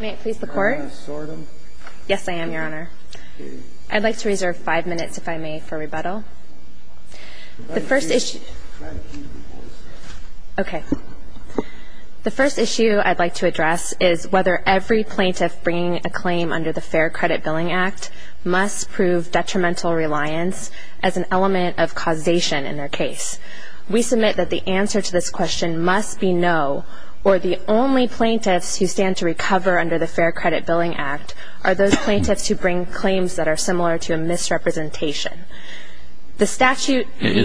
May it please the Court? Yes, I am, Your Honor. I'd like to reserve five minutes, if I may, for rebuttal. The first issue I'd like to address is whether every plaintiff bringing a claim under the Fair Credit Billing Act must prove detrimental reliance as an element of causation in their case. We submit that the answer to this question must be no, or the only plaintiffs who stand to recover under the Fair Credit Billing Act are those plaintiffs who bring claims that are similar to a misrepresentation. Is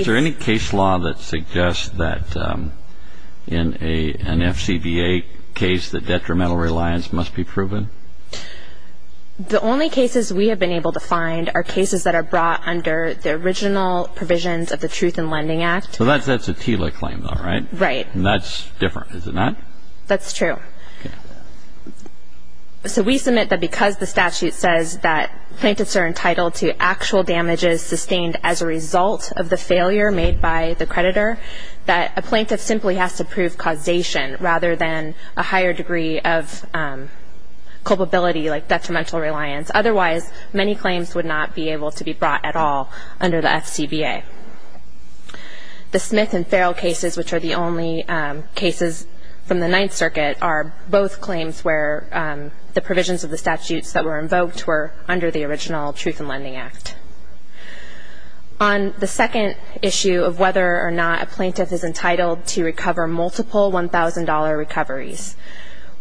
there any case law that suggests that in an FCBA case that detrimental reliance must be proven? The only cases we have been able to find are cases that are brought under the original provisions of the Truth in Lending Act. So that's a TILA claim, though, right? Right. And that's different, is it not? That's true. So we submit that because the statute says that plaintiffs are entitled to actual damages sustained as a result of the failure made by the creditor, that a plaintiff simply has to prove causation rather than a higher degree of culpability like detrimental reliance. Otherwise, many claims would not be able to be brought at all under the FCBA. The Smith and Farrell cases, which are the only cases from the Ninth Circuit, are both claims where the provisions of the statutes that were invoked were under the original Truth in Lending Act. On the second issue of whether or not a plaintiff is entitled to recover multiple $1,000 recoveries,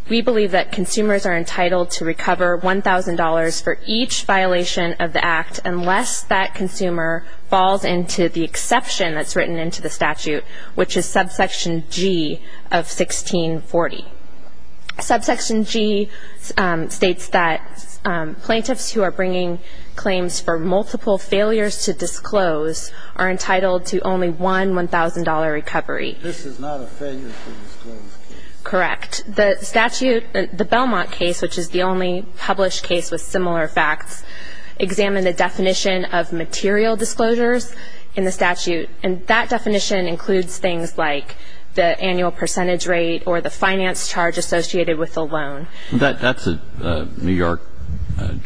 we believe that consumers are entitled to recover $1,000 for each violation of the Act unless that consumer falls into the exception that's written into the statute, which is subsection G of 1640. Subsection G states that plaintiffs who are bringing claims for multiple failures to disclose are entitled to only one $1,000 recovery. This is not a failure to disclose case. Correct. The statute, the Belmont case, which is the only published case with similar facts, examined the definition of material disclosures in the statute, and that definition includes things like the annual percentage rate or the finance charge associated with the loan. That's a New York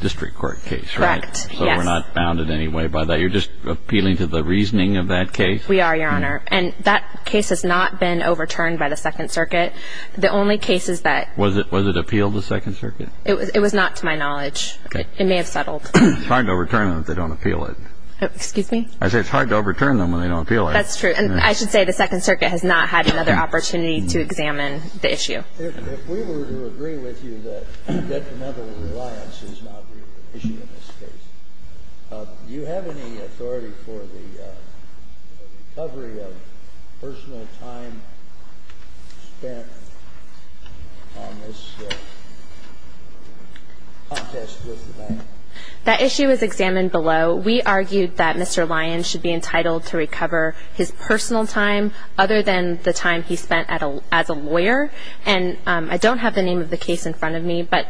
District Court case, right? Correct, yes. So we're not bounded in any way by that. You're just appealing to the reasoning of that case? We are, Your Honor. And that case has not been overturned by the Second Circuit. The only case is that... Was it appealed to the Second Circuit? It was not to my knowledge. Okay. It may have settled. It's hard to overturn them if they don't appeal it. Excuse me? I said it's hard to overturn them when they don't appeal it. That's true. And I should say the Second Circuit has not had another opportunity to examine the issue. If we were to agree with you that detrimental reliance is not the issue in this case, do you have any authority for the recovery of personal time spent on this contest with the bank? That issue is examined below. We argued that Mr. Lyons should be entitled to recover his personal time other than the time he spent as a lawyer. And I don't have the name of the case in front of me, but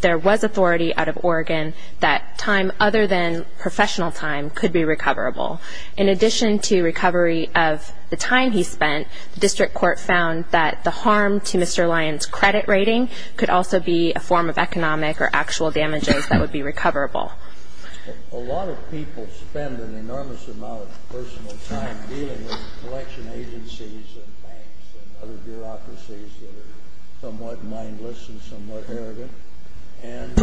there was authority out of Oregon that time other than professional time could be recoverable. In addition to recovery of the time he spent, the District Court found that the harm to Mr. Lyons' credit rating could also be a form of economic or actual damages that would be recoverable. A lot of people spend an enormous amount of personal time dealing with collection agencies and banks and other bureaucracies that are somewhat mindless and somewhat arrogant. And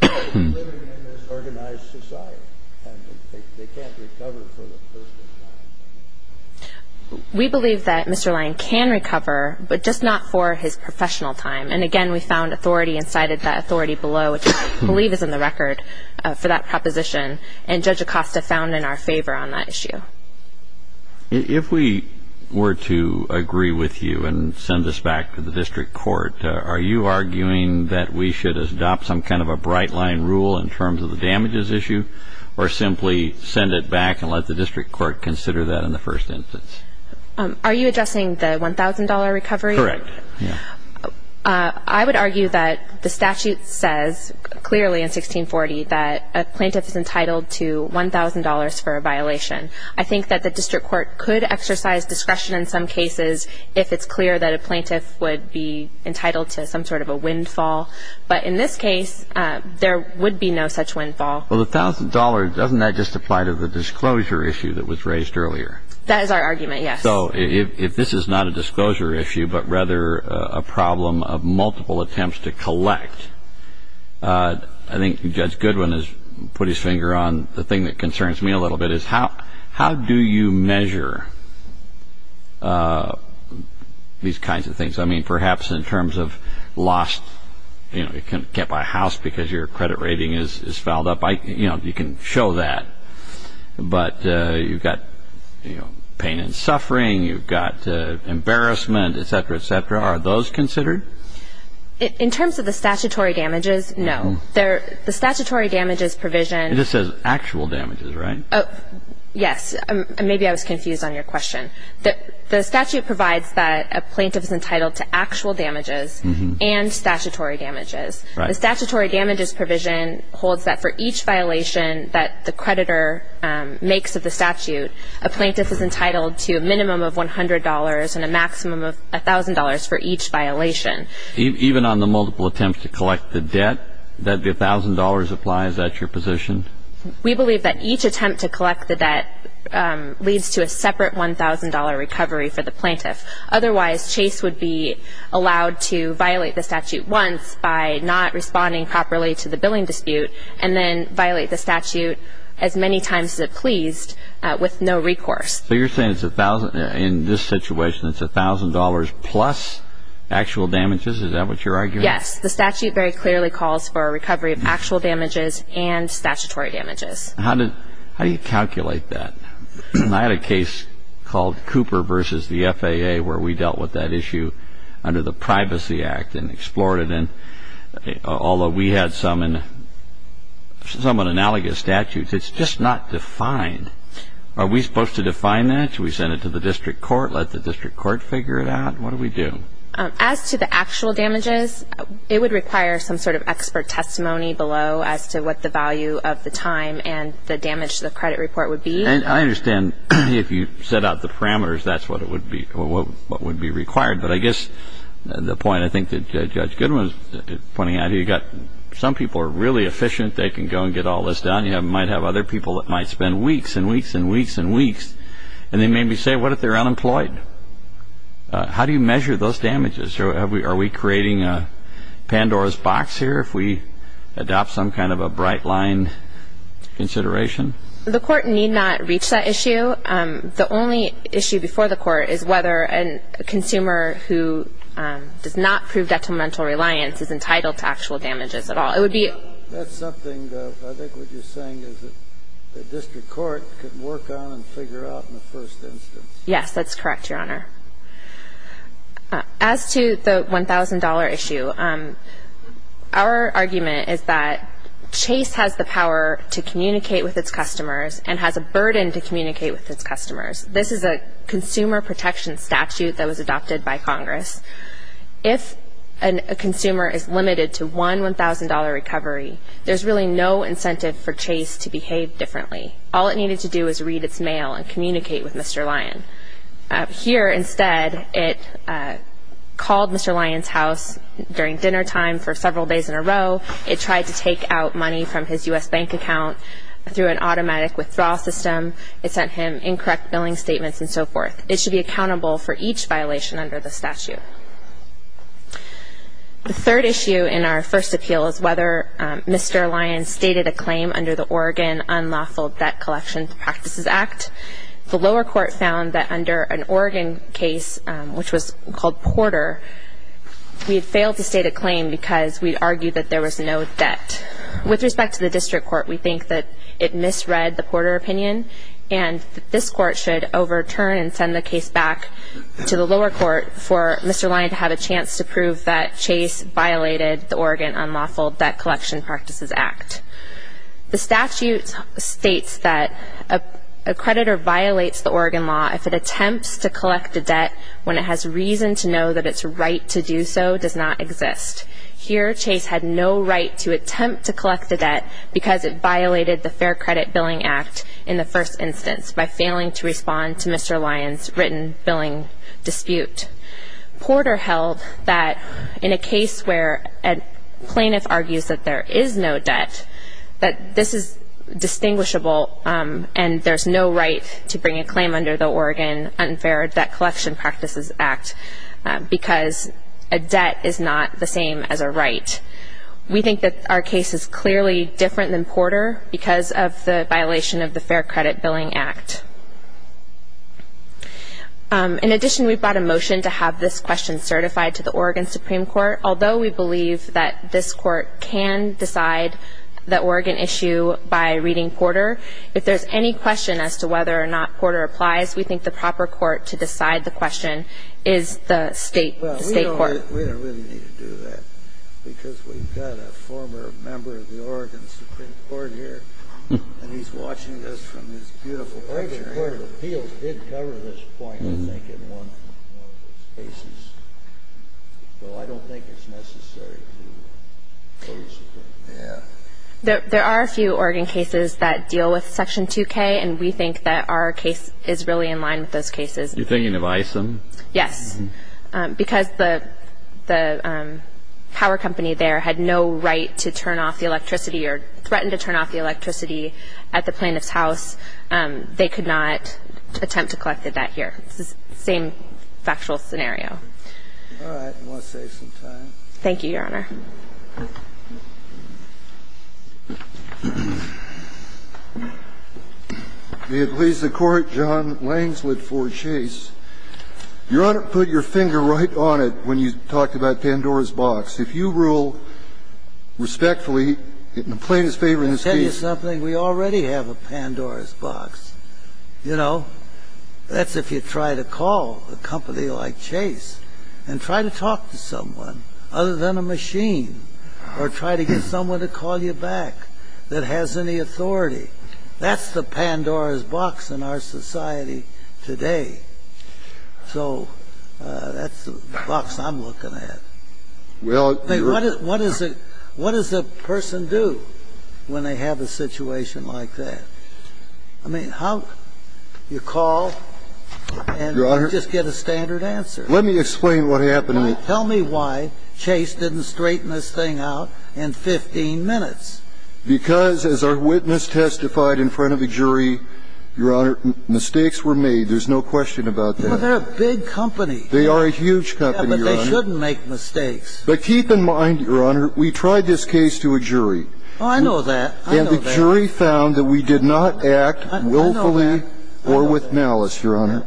they're living in this organized society, and they can't recover for the personal time. We believe that Mr. Lyons can recover, but just not for his professional time. And, again, we found authority and cited that authority below, which I believe is in the record for that proposition. And Judge Acosta found in our favor on that issue. If we were to agree with you and send this back to the District Court, are you arguing that we should adopt some kind of a bright-line rule in terms of the damages issue or simply send it back and let the District Court consider that in the first instance? Are you addressing the $1,000 recovery? Correct. I would argue that the statute says clearly in 1640 that a plaintiff is entitled to $1,000 for a violation. I think that the District Court could exercise discretion in some cases if it's clear that a plaintiff would be entitled to some sort of a windfall. But in this case, there would be no such windfall. Well, the $1,000, doesn't that just apply to the disclosure issue that was raised earlier? That is our argument, yes. So if this is not a disclosure issue but rather a problem of multiple attempts to collect, I think Judge Goodwin has put his finger on the thing that concerns me a little bit, is how do you measure these kinds of things? I mean, perhaps in terms of lost, you know, you can't buy a house because your credit rating is fouled up. You know, you can show that. But you've got, you know, pain and suffering. You've got embarrassment, et cetera, et cetera. Are those considered? In terms of the statutory damages, no. The statutory damages provision... It just says actual damages, right? Yes. Maybe I was confused on your question. The statute provides that a plaintiff is entitled to actual damages and statutory damages. The statutory damages provision holds that for each violation that the creditor makes of the statute, a plaintiff is entitled to a minimum of $100 and a maximum of $1,000 for each violation. Even on the multiple attempts to collect the debt, that $1,000 applies? Is that your position? We believe that each attempt to collect the debt leads to a separate $1,000 recovery for the plaintiff. Otherwise, Chase would be allowed to violate the statute once by not responding properly to the billing dispute and then violate the statute as many times as it pleased with no recourse. So you're saying it's $1,000? In this situation, it's $1,000 plus actual damages? Is that what you're arguing? Yes. The statute very clearly calls for a recovery of actual damages and statutory damages. How do you calculate that? I had a case called Cooper v. the FAA where we dealt with that issue under the Privacy Act and explored it, although we had some in somewhat analogous statutes. It's just not defined. Are we supposed to define that? Should we send it to the district court, let the district court figure it out? What do we do? As to the actual damages, it would require some sort of expert testimony below as to what the value of the time and the damage to the credit report would be. I understand if you set out the parameters, that's what would be required. But I guess the point I think that Judge Goodwin was pointing out, you've got some people who are really efficient, they can go and get all this done. You might have other people that might spend weeks and weeks and weeks and weeks, and they may say, what if they're unemployed? How do you measure those damages? Are we creating a Pandora's box here if we adopt some kind of a bright line consideration? The court need not reach that issue. The only issue before the court is whether a consumer who does not prove detrimental reliance is entitled to actual damages at all. That's something I think what you're saying is that the district court can work on and figure out in the first instance. Yes, that's correct, Your Honor. As to the $1,000 issue, our argument is that Chase has the power to communicate with its customers and has a burden to communicate with its customers. This is a consumer protection statute that was adopted by Congress. If a consumer is limited to one $1,000 recovery, there's really no incentive for Chase to behave differently. All it needed to do was read its mail and communicate with Mr. Lyon. Here, instead, it called Mr. Lyon's house during dinner time for several days in a row. It tried to take out money from his U.S. bank account through an automatic withdrawal system. It sent him incorrect billing statements and so forth. It should be accountable for each violation under the statute. The third issue in our first appeal is whether Mr. Lyon stated a claim under the Oregon Unlawful Debt Collection Practices Act. The lower court found that under an Oregon case, which was called Porter, we had failed to state a claim because we argued that there was no debt. With respect to the district court, we think that it misread the Porter opinion and that this court should overturn and send the case back to the lower court for Mr. Lyon to have a chance to prove that Chase violated the Oregon Unlawful Debt Collection Practices Act. The statute states that a creditor violates the Oregon law if it attempts to collect a debt when it has reason to know that its right to do so does not exist. Here, Chase had no right to attempt to collect a debt because it violated the Fair Credit Billing Act in the first instance by failing to respond to Mr. Lyon's written billing dispute. Porter held that in a case where a plaintiff argues that there is no debt, that this is distinguishable and there's no right to bring a claim under the Oregon Unfair Debt Collection Practices Act because a debt is not the same as a right. We think that our case is clearly different than Porter because of the violation of the Fair Credit Billing Act. In addition, we've brought a motion to have this question certified to the Oregon Supreme Court. Although we believe that this court can decide the Oregon issue by reading Porter, if there's any question as to whether or not Porter applies, we think the proper court to decide the question is the state court. Well, we don't really need to do that because we've got a former member of the Oregon Supreme Court here and he's watching this from this beautiful picture. There are a few Oregon cases that deal with Section 2K and we think that our case is really in line with those cases. You're thinking of ISIM? Yes. Because the power company there had no right to turn off the electricity or threatened to turn off the electricity at the plaintiff's house, they could not attempt to collect the debt here. It's the same factual scenario. All right. I'm going to save some time. Thank you, Your Honor. May it please the Court, John Langsdorf for Chase. Your Honor, put your finger right on it when you talked about Pandora's Box. If you rule respectfully in the plaintiff's favor in this case. Let me tell you something. We already have a Pandora's Box. You know, that's if you try to call a company like Chase and try to talk to someone other than a machine or try to get someone to call you back that has any authority. That's the Pandora's Box in our society today. So that's the box I'm looking at. What does a person do when they have a situation like that? I mean, how do you call and just get a standard answer? Let me explain what happened. Tell me why Chase didn't straighten this thing out in 15 minutes. Because as our witness testified in front of the jury, Your Honor, mistakes were made. There's no question about that. Well, they're a big company. They are a huge company, Your Honor. Yeah, but they shouldn't make mistakes. But keep in mind, Your Honor, we tried this case to a jury. Oh, I know that. I know that. And the jury found that we did not act willfully or with malice, Your Honor.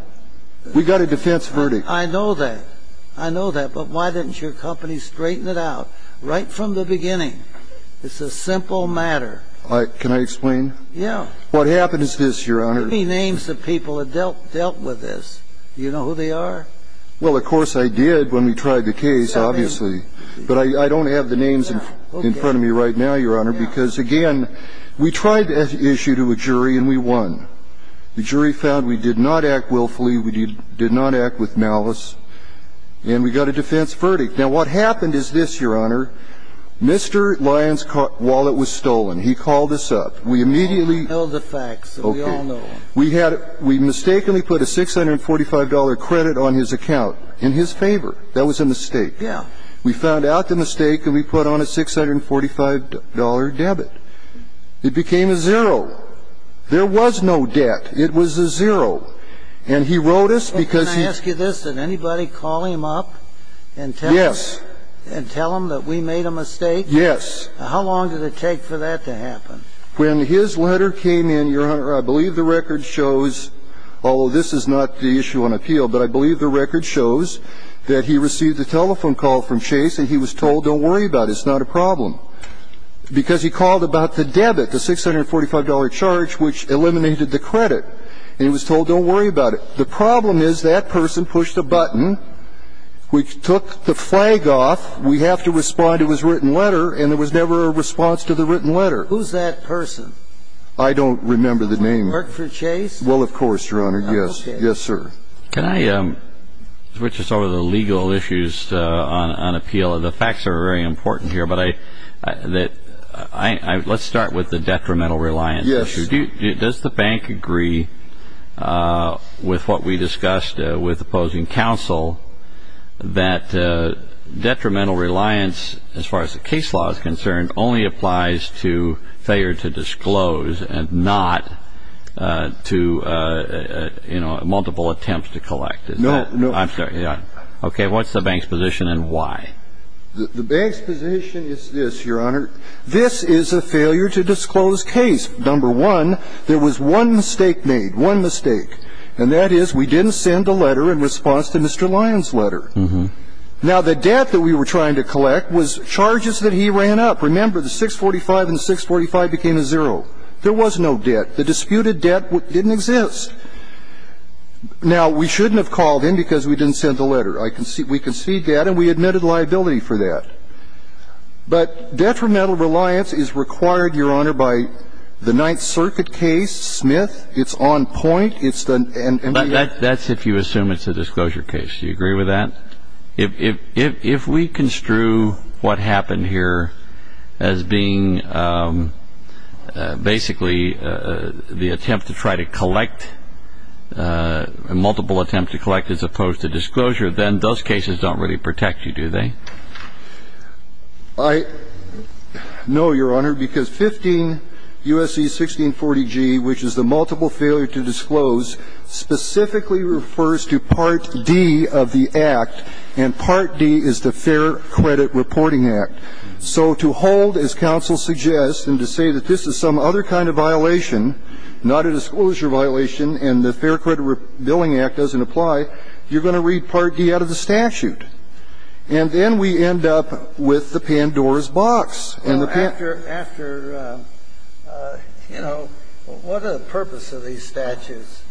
We got a defense verdict. I know that. But why didn't your company straighten it out right from the beginning? It's a simple matter. Can I explain? Yeah. What happened is this, Your Honor. How many names of people have dealt with this? Do you know who they are? Well, of course I did when we tried the case, obviously. But I don't have the names in front of me right now, Your Honor, because, again, we tried this issue to a jury and we won. The jury found we did not act willfully, we did not act with malice, and we got a defense verdict. Now, what happened is this, Your Honor. Mr. Lyons' wallet was stolen. He called us up. We immediately ---- Tell the facts so we all know. Okay. We had a ---- we mistakenly put a $645 credit on his account in his favor. That was a mistake. Yeah. We found out the mistake and we put on a $645 debit. It became a zero. There was no debt. It was a zero. And he wrote us because he ---- Can I ask you this? Did anybody call him up and tell him ---- Yes. And tell him that we made a mistake? Yes. How long did it take for that to happen? When his letter came in, Your Honor, I believe the record shows, although this is not the issue on appeal, but I believe the record shows that he received a telephone call from Chase and he was told, don't worry about it, it's not a problem, because he called about the debit, the $645 charge, which eliminated the credit, and he was told, don't worry about it. The problem is that person pushed a button, which took the flag off. We have to respond to his written letter, and there was never a response to the written letter. Who's that person? I don't remember the name. Markford Chase? Well, of course, Your Honor. Yes. Yes, sir. Can I switch us over to the legal issues on appeal? The facts are very important here, but I ---- let's start with the detrimental reliance issue. Yes. Does the bank agree with what we discussed with opposing counsel that detrimental reliance, as far as the case law is concerned, only applies to failure to disclose and not to, you know, multiple attempts to collect? No. I'm sorry. Okay. What's the bank's position and why? The bank's position is this, Your Honor. This is a failure to disclose case. Number one, there was one mistake made, one mistake, and that is we didn't send a letter in response to Mr. Lyon's letter. Mm-hmm. Now, the debt that we were trying to collect was charges that he ran up. Remember, the 645 and the 645 became a zero. There was no debt. The disputed debt didn't exist. Now, we shouldn't have called in because we didn't send the letter. We conceded that, and we admitted liability for that. But detrimental reliance is required, Your Honor, by the Ninth Circuit case, Smith. It's on point. It's the end. That's if you assume it's a disclosure case. Do you agree with that? If we construe what happened here as being basically the attempt to try to collect, multiple attempts to collect as opposed to disclosure, then those cases don't really protect you, do they? I know, Your Honor, because 15 U.S.C. 1640G, which is the multiple failure to disclose, specifically refers to Part D of the Act, and Part D is the Fair Credit Reporting Act. So to hold, as counsel suggests, and to say that this is some other kind of violation, not a disclosure violation, and the Fair Credit Billing Act doesn't apply, you're going to read Part D out of the statute. And then we end up with the Pandora's box. After, you know, what are the purposes of these statutes?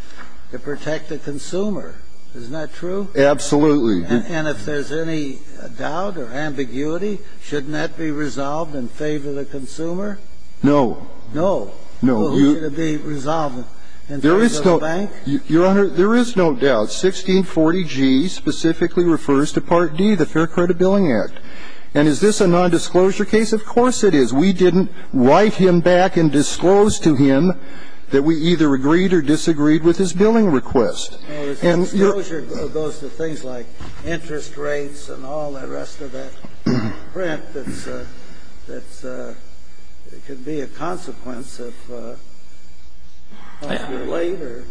To protect the consumer. Isn't that true? Absolutely. And if there's any doubt or ambiguity, shouldn't that be resolved in favor of the consumer? No. No. Well, should it be resolved in favor of the bank? Your Honor, there is no doubt. 1640G specifically refers to Part D, the Fair Credit Billing Act. And is this a nondisclosure case? Of course it is. We didn't write him back and disclose to him that we either agreed or disagreed with his billing request. No, disclosure goes to things like interest rates and all the rest of that print that's, that's, it could be a consequence if you're late or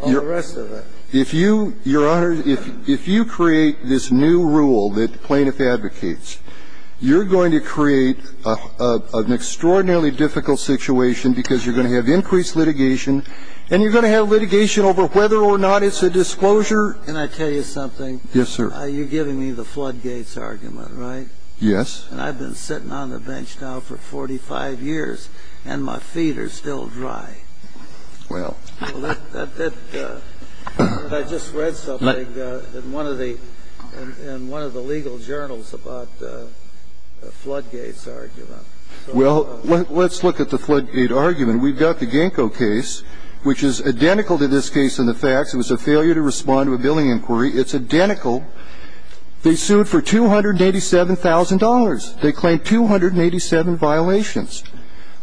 all the rest of it. If you, Your Honor, if you create this new rule that plaintiff advocates, you're going to create an extraordinarily difficult situation because you're going to have increased litigation and you're going to have litigation over whether or not it's a disclosure. Can I tell you something? Yes, sir. You're giving me the Floodgates argument, right? Yes. And I've been sitting on the bench now for 45 years and my feet are still dry. Well. I just read something in one of the, in one of the legal journals about the Floodgates argument. Well, let's look at the Floodgates argument. We've got the Genco case, which is identical to this case in the facts. It was a failure to respond to a billing inquiry. It's identical. They sued for $287,000. They claimed 287 violations.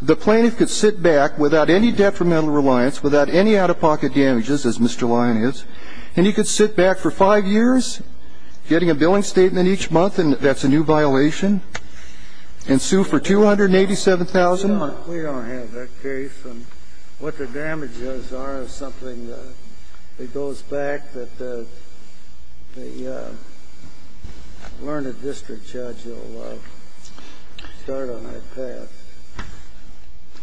The plaintiff could sit back without any detrimental reliance, without any out-of-pocket damages, as Mr. Lyon is, and he could sit back for five years, getting a billing statement each month, and that's a new violation, and sue for $287,000. We don't have that case. I don't know what the damages are or something. It goes back that the learned district judge will start on that path.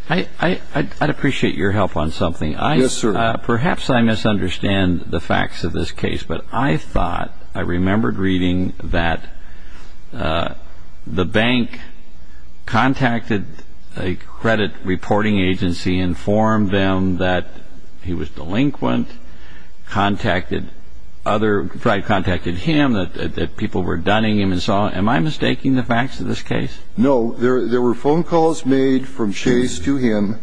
I'd appreciate your help on something. Yes, sir. Perhaps I misunderstand the facts of this case, but I thought, I remembered reading that the bank contacted a credit reporting agency, informed them that he was delinquent, contacted other, contacted him, that people were dunning him, and so on. Am I mistaking the facts of this case? No. There were phone calls made from Chase to him.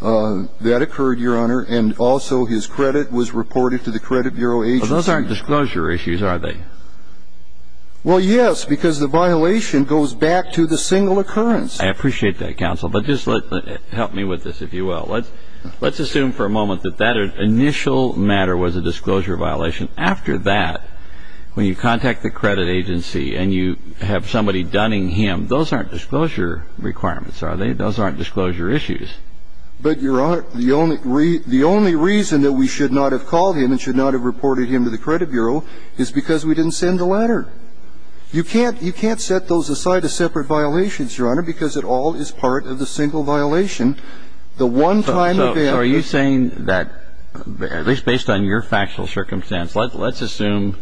That occurred, Your Honor, and also his credit was reported to the credit bureau agency. Well, those aren't disclosure issues, are they? Well, yes, because the violation goes back to the single occurrence. I appreciate that, counsel, but just help me with this, if you will. Let's assume for a moment that that initial matter was a disclosure violation. After that, when you contact the credit agency and you have somebody dunning him, those aren't disclosure requirements, are they? Those aren't disclosure issues. But, Your Honor, the only reason that we should not have called him and should not have reported him to the credit bureau is because we didn't send the letter. You can't set those aside as separate violations, Your Honor, because it all is part of the single violation. The one time event. So are you saying that, at least based on your factual circumstance, let's assume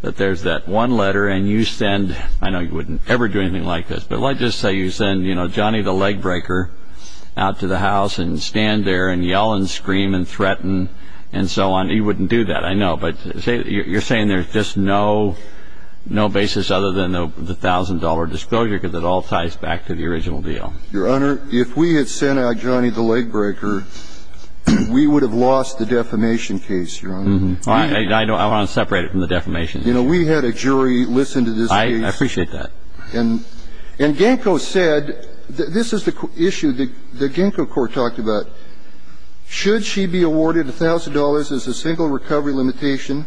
that there's that one letter and you send, I know you wouldn't ever do anything like this, but stand there and yell and scream and threaten and so on. You wouldn't do that, I know. But you're saying there's just no basis other than the $1,000 disclosure because it all ties back to the original deal. Your Honor, if we had sent out Johnny the Legbreaker, we would have lost the defamation case, Your Honor. I want to separate it from the defamation case. You know, we had a jury listen to this case. I appreciate that. And Genco said, this is the issue that Genco Court talked about. Should she be awarded $1,000 as a single recovery limitation?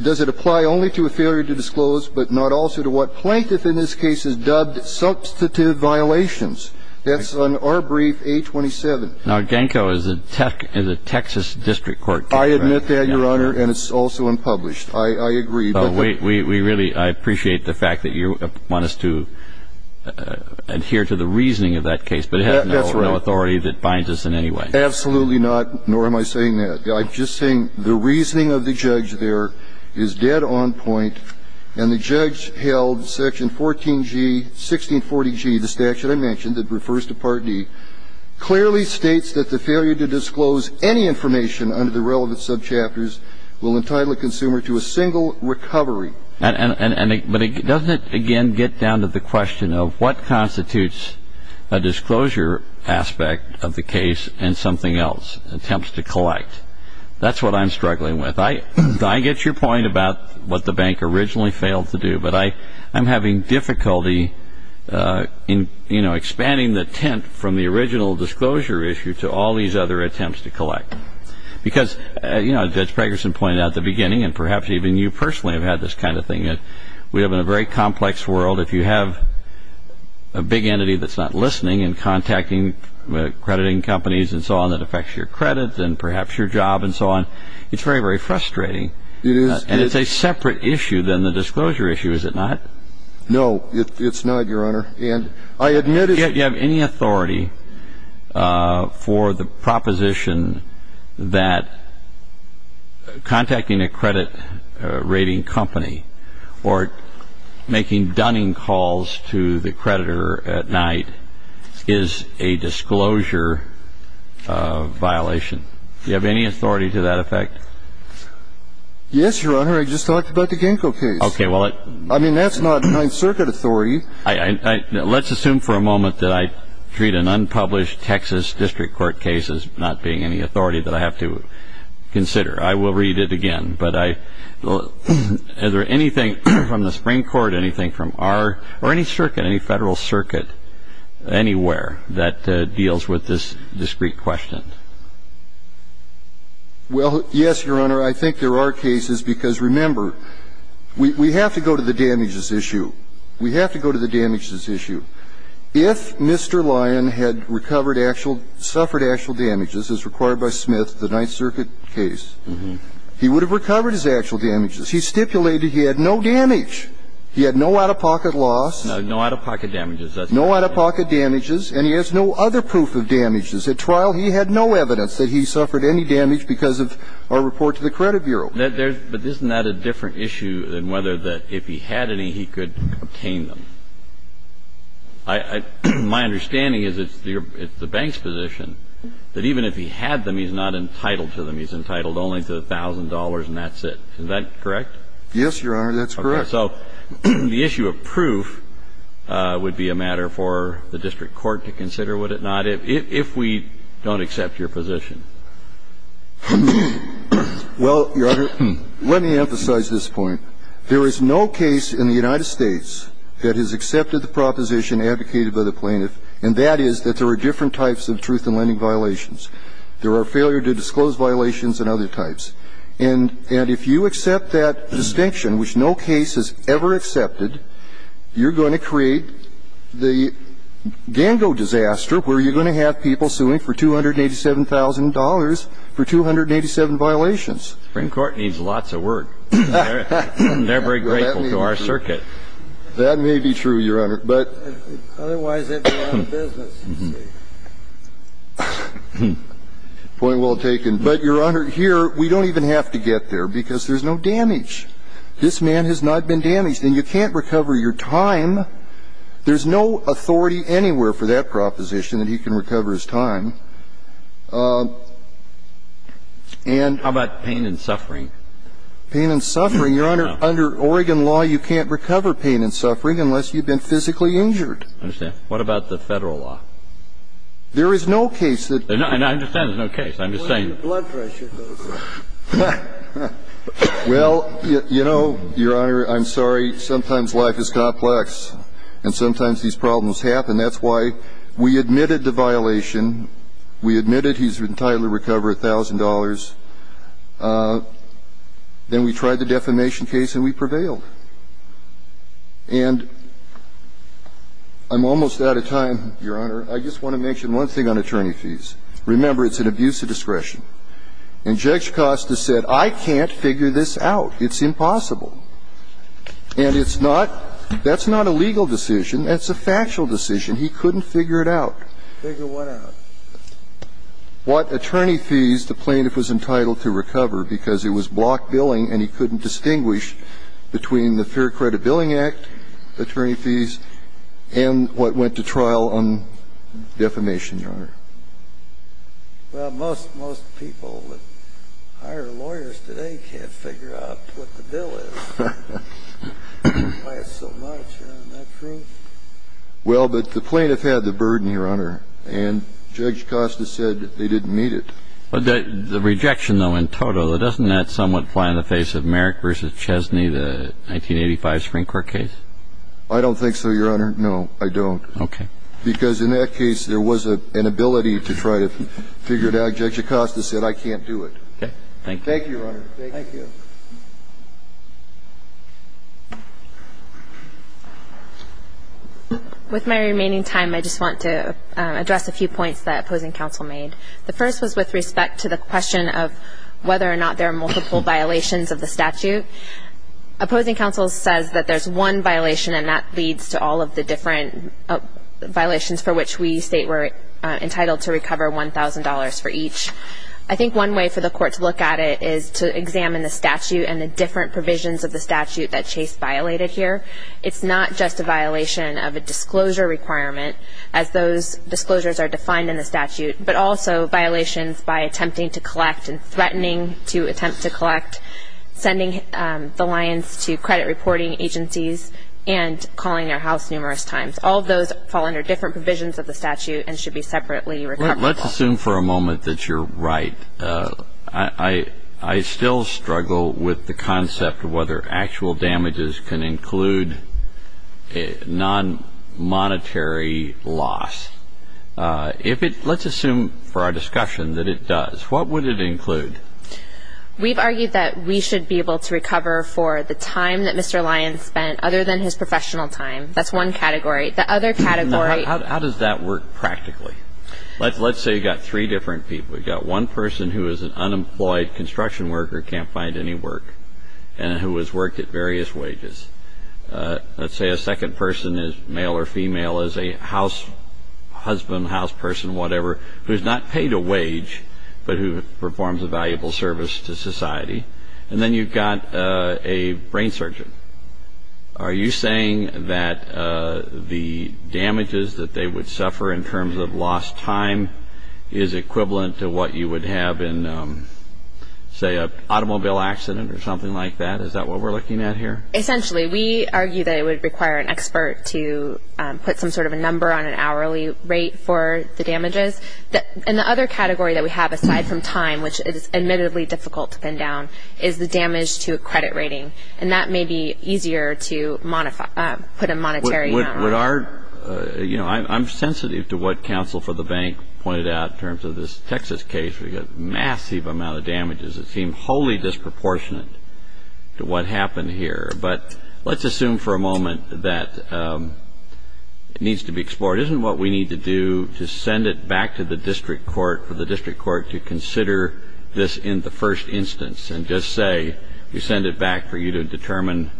Does it apply only to a failure to disclose, but not also to what plaintiff in this case has dubbed substantive violations? That's on our brief, 827. Now, Genco is a Texas district court. I admit that, Your Honor, and it's also unpublished. I agree. We really appreciate the fact that you want us to adhere to the reasoning of that case. That's right. But it has no authority that binds us in any way. Absolutely not, nor am I saying that. I'm just saying the reasoning of the judge there is dead on point. And the judge held Section 14G, 1640G, the statute I mentioned that refers to Part D, clearly states that the failure to disclose any information under the relevant will entitle a consumer to a single recovery. But doesn't it, again, get down to the question of what constitutes a disclosure aspect of the case and something else, attempts to collect? That's what I'm struggling with. I get your point about what the bank originally failed to do, but I'm having difficulty in, you know, expanding the tent from the original disclosure issue to all these other attempts to collect. Because, you know, Judge Pegerson pointed out at the beginning, and perhaps even you personally have had this kind of thing, that we live in a very complex world. If you have a big entity that's not listening and contacting crediting companies and so on that affects your credit and perhaps your job and so on, it's very, very frustrating. It is. And it's a separate issue than the disclosure issue, is it not? No, it's not, Your Honor. Do you have any authority for the proposition that contacting a credit rating company or making dunning calls to the creditor at night is a disclosure violation? Do you have any authority to that effect? Yes, Your Honor. I just talked about the Genco case. Okay. I mean, that's not Ninth Circuit authority. Let's assume for a moment that I treat an unpublished Texas district court case as not being any authority that I have to consider. I will read it again. But is there anything from the Supreme Court, anything from our or any circuit, any Federal circuit anywhere that deals with this discrete question? Well, yes, Your Honor. I think there are cases. Because, remember, we have to go to the damages issue. We have to go to the damages issue. If Mr. Lyon had recovered actual, suffered actual damages as required by Smith, the Ninth Circuit case, he would have recovered his actual damages. He stipulated he had no damage. He had no out-of-pocket loss. No out-of-pocket damages. No out-of-pocket damages. And he has no other proof of damages. At trial, he had no evidence that he suffered any damage because of our report to the Credit Bureau. But isn't that a different issue than whether that if he had any, he could obtain them? My understanding is it's the bank's position that even if he had them, he's not entitled to them. He's entitled only to $1,000 and that's it. Is that correct? Yes, Your Honor. That's correct. Okay. So the issue of proof would be a matter for the district court to consider, would it not, if we don't accept your position? Well, Your Honor, let me emphasize this point. There is no case in the United States that has accepted the proposition advocated by the plaintiff, and that is that there are different types of truth-in-landing violations. There are failure-to-disclose violations and other types. And if you accept that distinction, which no case has ever accepted, you're going to create the gango disaster where you're going to have people suing for $287,000 for 287 violations. The Supreme Court needs lots of work. They're very grateful to our circuit. That may be true, Your Honor. Otherwise, they'd be out of business. Point well taken. But, Your Honor, here we don't even have to get there because there's no damage. This man has not been damaged. And you can't recover your time. There's no authority anywhere for that proposition that he can recover his time. And the State and the State courts, there is a violation of the rule. How about pain and suffering? Pain and suffering? Your Honor, under Oregon law, you can't recover pain and suffering unless you've been physically injured. I understand. There is no case that the State can recover pain and suffering. And I understand there's no case. I'm just saying that. Blood pressure. Well, you know, Your Honor, I'm sorry. Sometimes life is complex and sometimes these problems happen. That's why we admitted the violation. We admitted he's entitled to recover $1,000. Then we tried the defamation case and we prevailed. And I'm almost out of time, Your Honor. I just want to mention one thing on attorney fees. Remember, it's an abuse of discretion. And Judge Costa said, I can't figure this out. It's impossible. And it's not – that's not a legal decision. That's a factual decision. He couldn't figure it out. Figure what out? What attorney fees the plaintiff was entitled to recover, because it was blocked billing and he couldn't distinguish between the Fair Credit Billing Act attorney fees and what went to trial on defamation, Your Honor. Well, most people that hire lawyers today can't figure out what the bill is. That's why it's so much, Your Honor. Isn't that true? Well, but the plaintiff had the burden, Your Honor. And Judge Costa said they didn't need it. The rejection, though, in total, doesn't that somewhat fly in the face of Merrick v. Chesney, the 1985 Supreme Court case? I don't think so, Your Honor. No, I don't. Okay. Because in that case, there was an ability to try to figure it out. Judge Costa said, I can't do it. Thank you. Thank you, Your Honor. Thank you. With my remaining time, I just want to address a few points that opposing counsel made. The first was with respect to the question of whether or not there are multiple violations of the statute. Opposing counsel says that there's one violation, and that leads to all of the different violations for which we state we're entitled to recover $1,000 for each. I think one way for the court to look at it is to examine the statute and the different provisions of the statute that Chase violated here. It's not just a violation of a disclosure requirement, as those disclosures are defined in the statute, but also violations by attempting to collect and threatening to attempt to credit reporting agencies and calling their house numerous times. All of those fall under different provisions of the statute and should be separately recoverable. Let's assume for a moment that you're right. I still struggle with the concept of whether actual damages can include non-monetary loss. Let's assume for our discussion that it does. What would it include? We've argued that we should be able to recover for the time that Mr. Lyons spent other than his professional time. That's one category. The other category. How does that work practically? Let's say you've got three different people. You've got one person who is an unemployed construction worker, can't find any work, and who has worked at various wages. Let's say a second person is male or female, is a house husband, house person, whatever, who has not paid a wage, but who performs a valuable service to society. And then you've got a brain surgeon. Are you saying that the damages that they would suffer in terms of lost time is equivalent to what you would have in, say, an automobile accident or something like that? Is that what we're looking at here? Essentially, we argue that it would require an expert to put some sort of a number on an hourly rate for the damages. And the other category that we have, aside from time, which is admittedly difficult to pin down, is the damage to a credit rating. And that may be easier to put a monetary amount on. I'm sensitive to what counsel for the bank pointed out in terms of this Texas case. We've got a massive amount of damages that seem wholly disproportionate to what happened here. But let's assume for a moment that it needs to be explored. Isn't what we need to do to send it back to the district court, for the district court to consider this in the first instance and just say we send it back for you to determine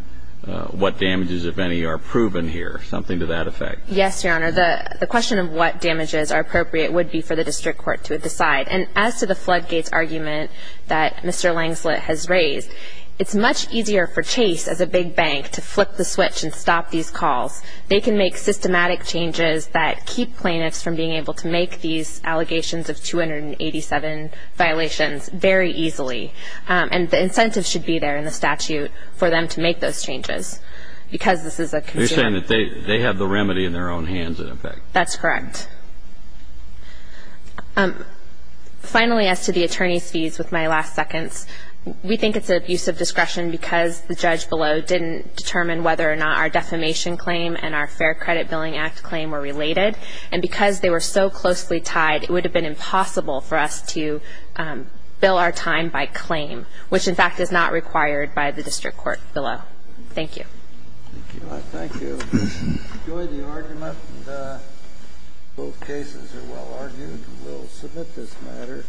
what damages, if any, are proven here, something to that effect? Yes, Your Honor. The question of what damages are appropriate would be for the district court to decide. And as to the floodgates argument that Mr. Langslet has raised, it's much easier for Chase, as a big bank, to flip the switch and stop these calls. They can make systematic changes that keep plaintiffs from being able to make these allegations of 287 violations very easily. And the incentives should be there in the statute for them to make those changes because this is a consumer. You're saying that they have the remedy in their own hands, in effect. That's correct. Finally, as to the attorney's fees, with my last seconds, we think it's an abuse of discretion because the judge below didn't determine whether or not our defamation claim and our Fair Credit Billing Act claim were related. And because they were so closely tied, it would have been impossible for us to bill our time by claim, which, in fact, is not required by the district court below. Thank you. Thank you. Enjoy the argument. Both cases are well argued. We'll submit this matter.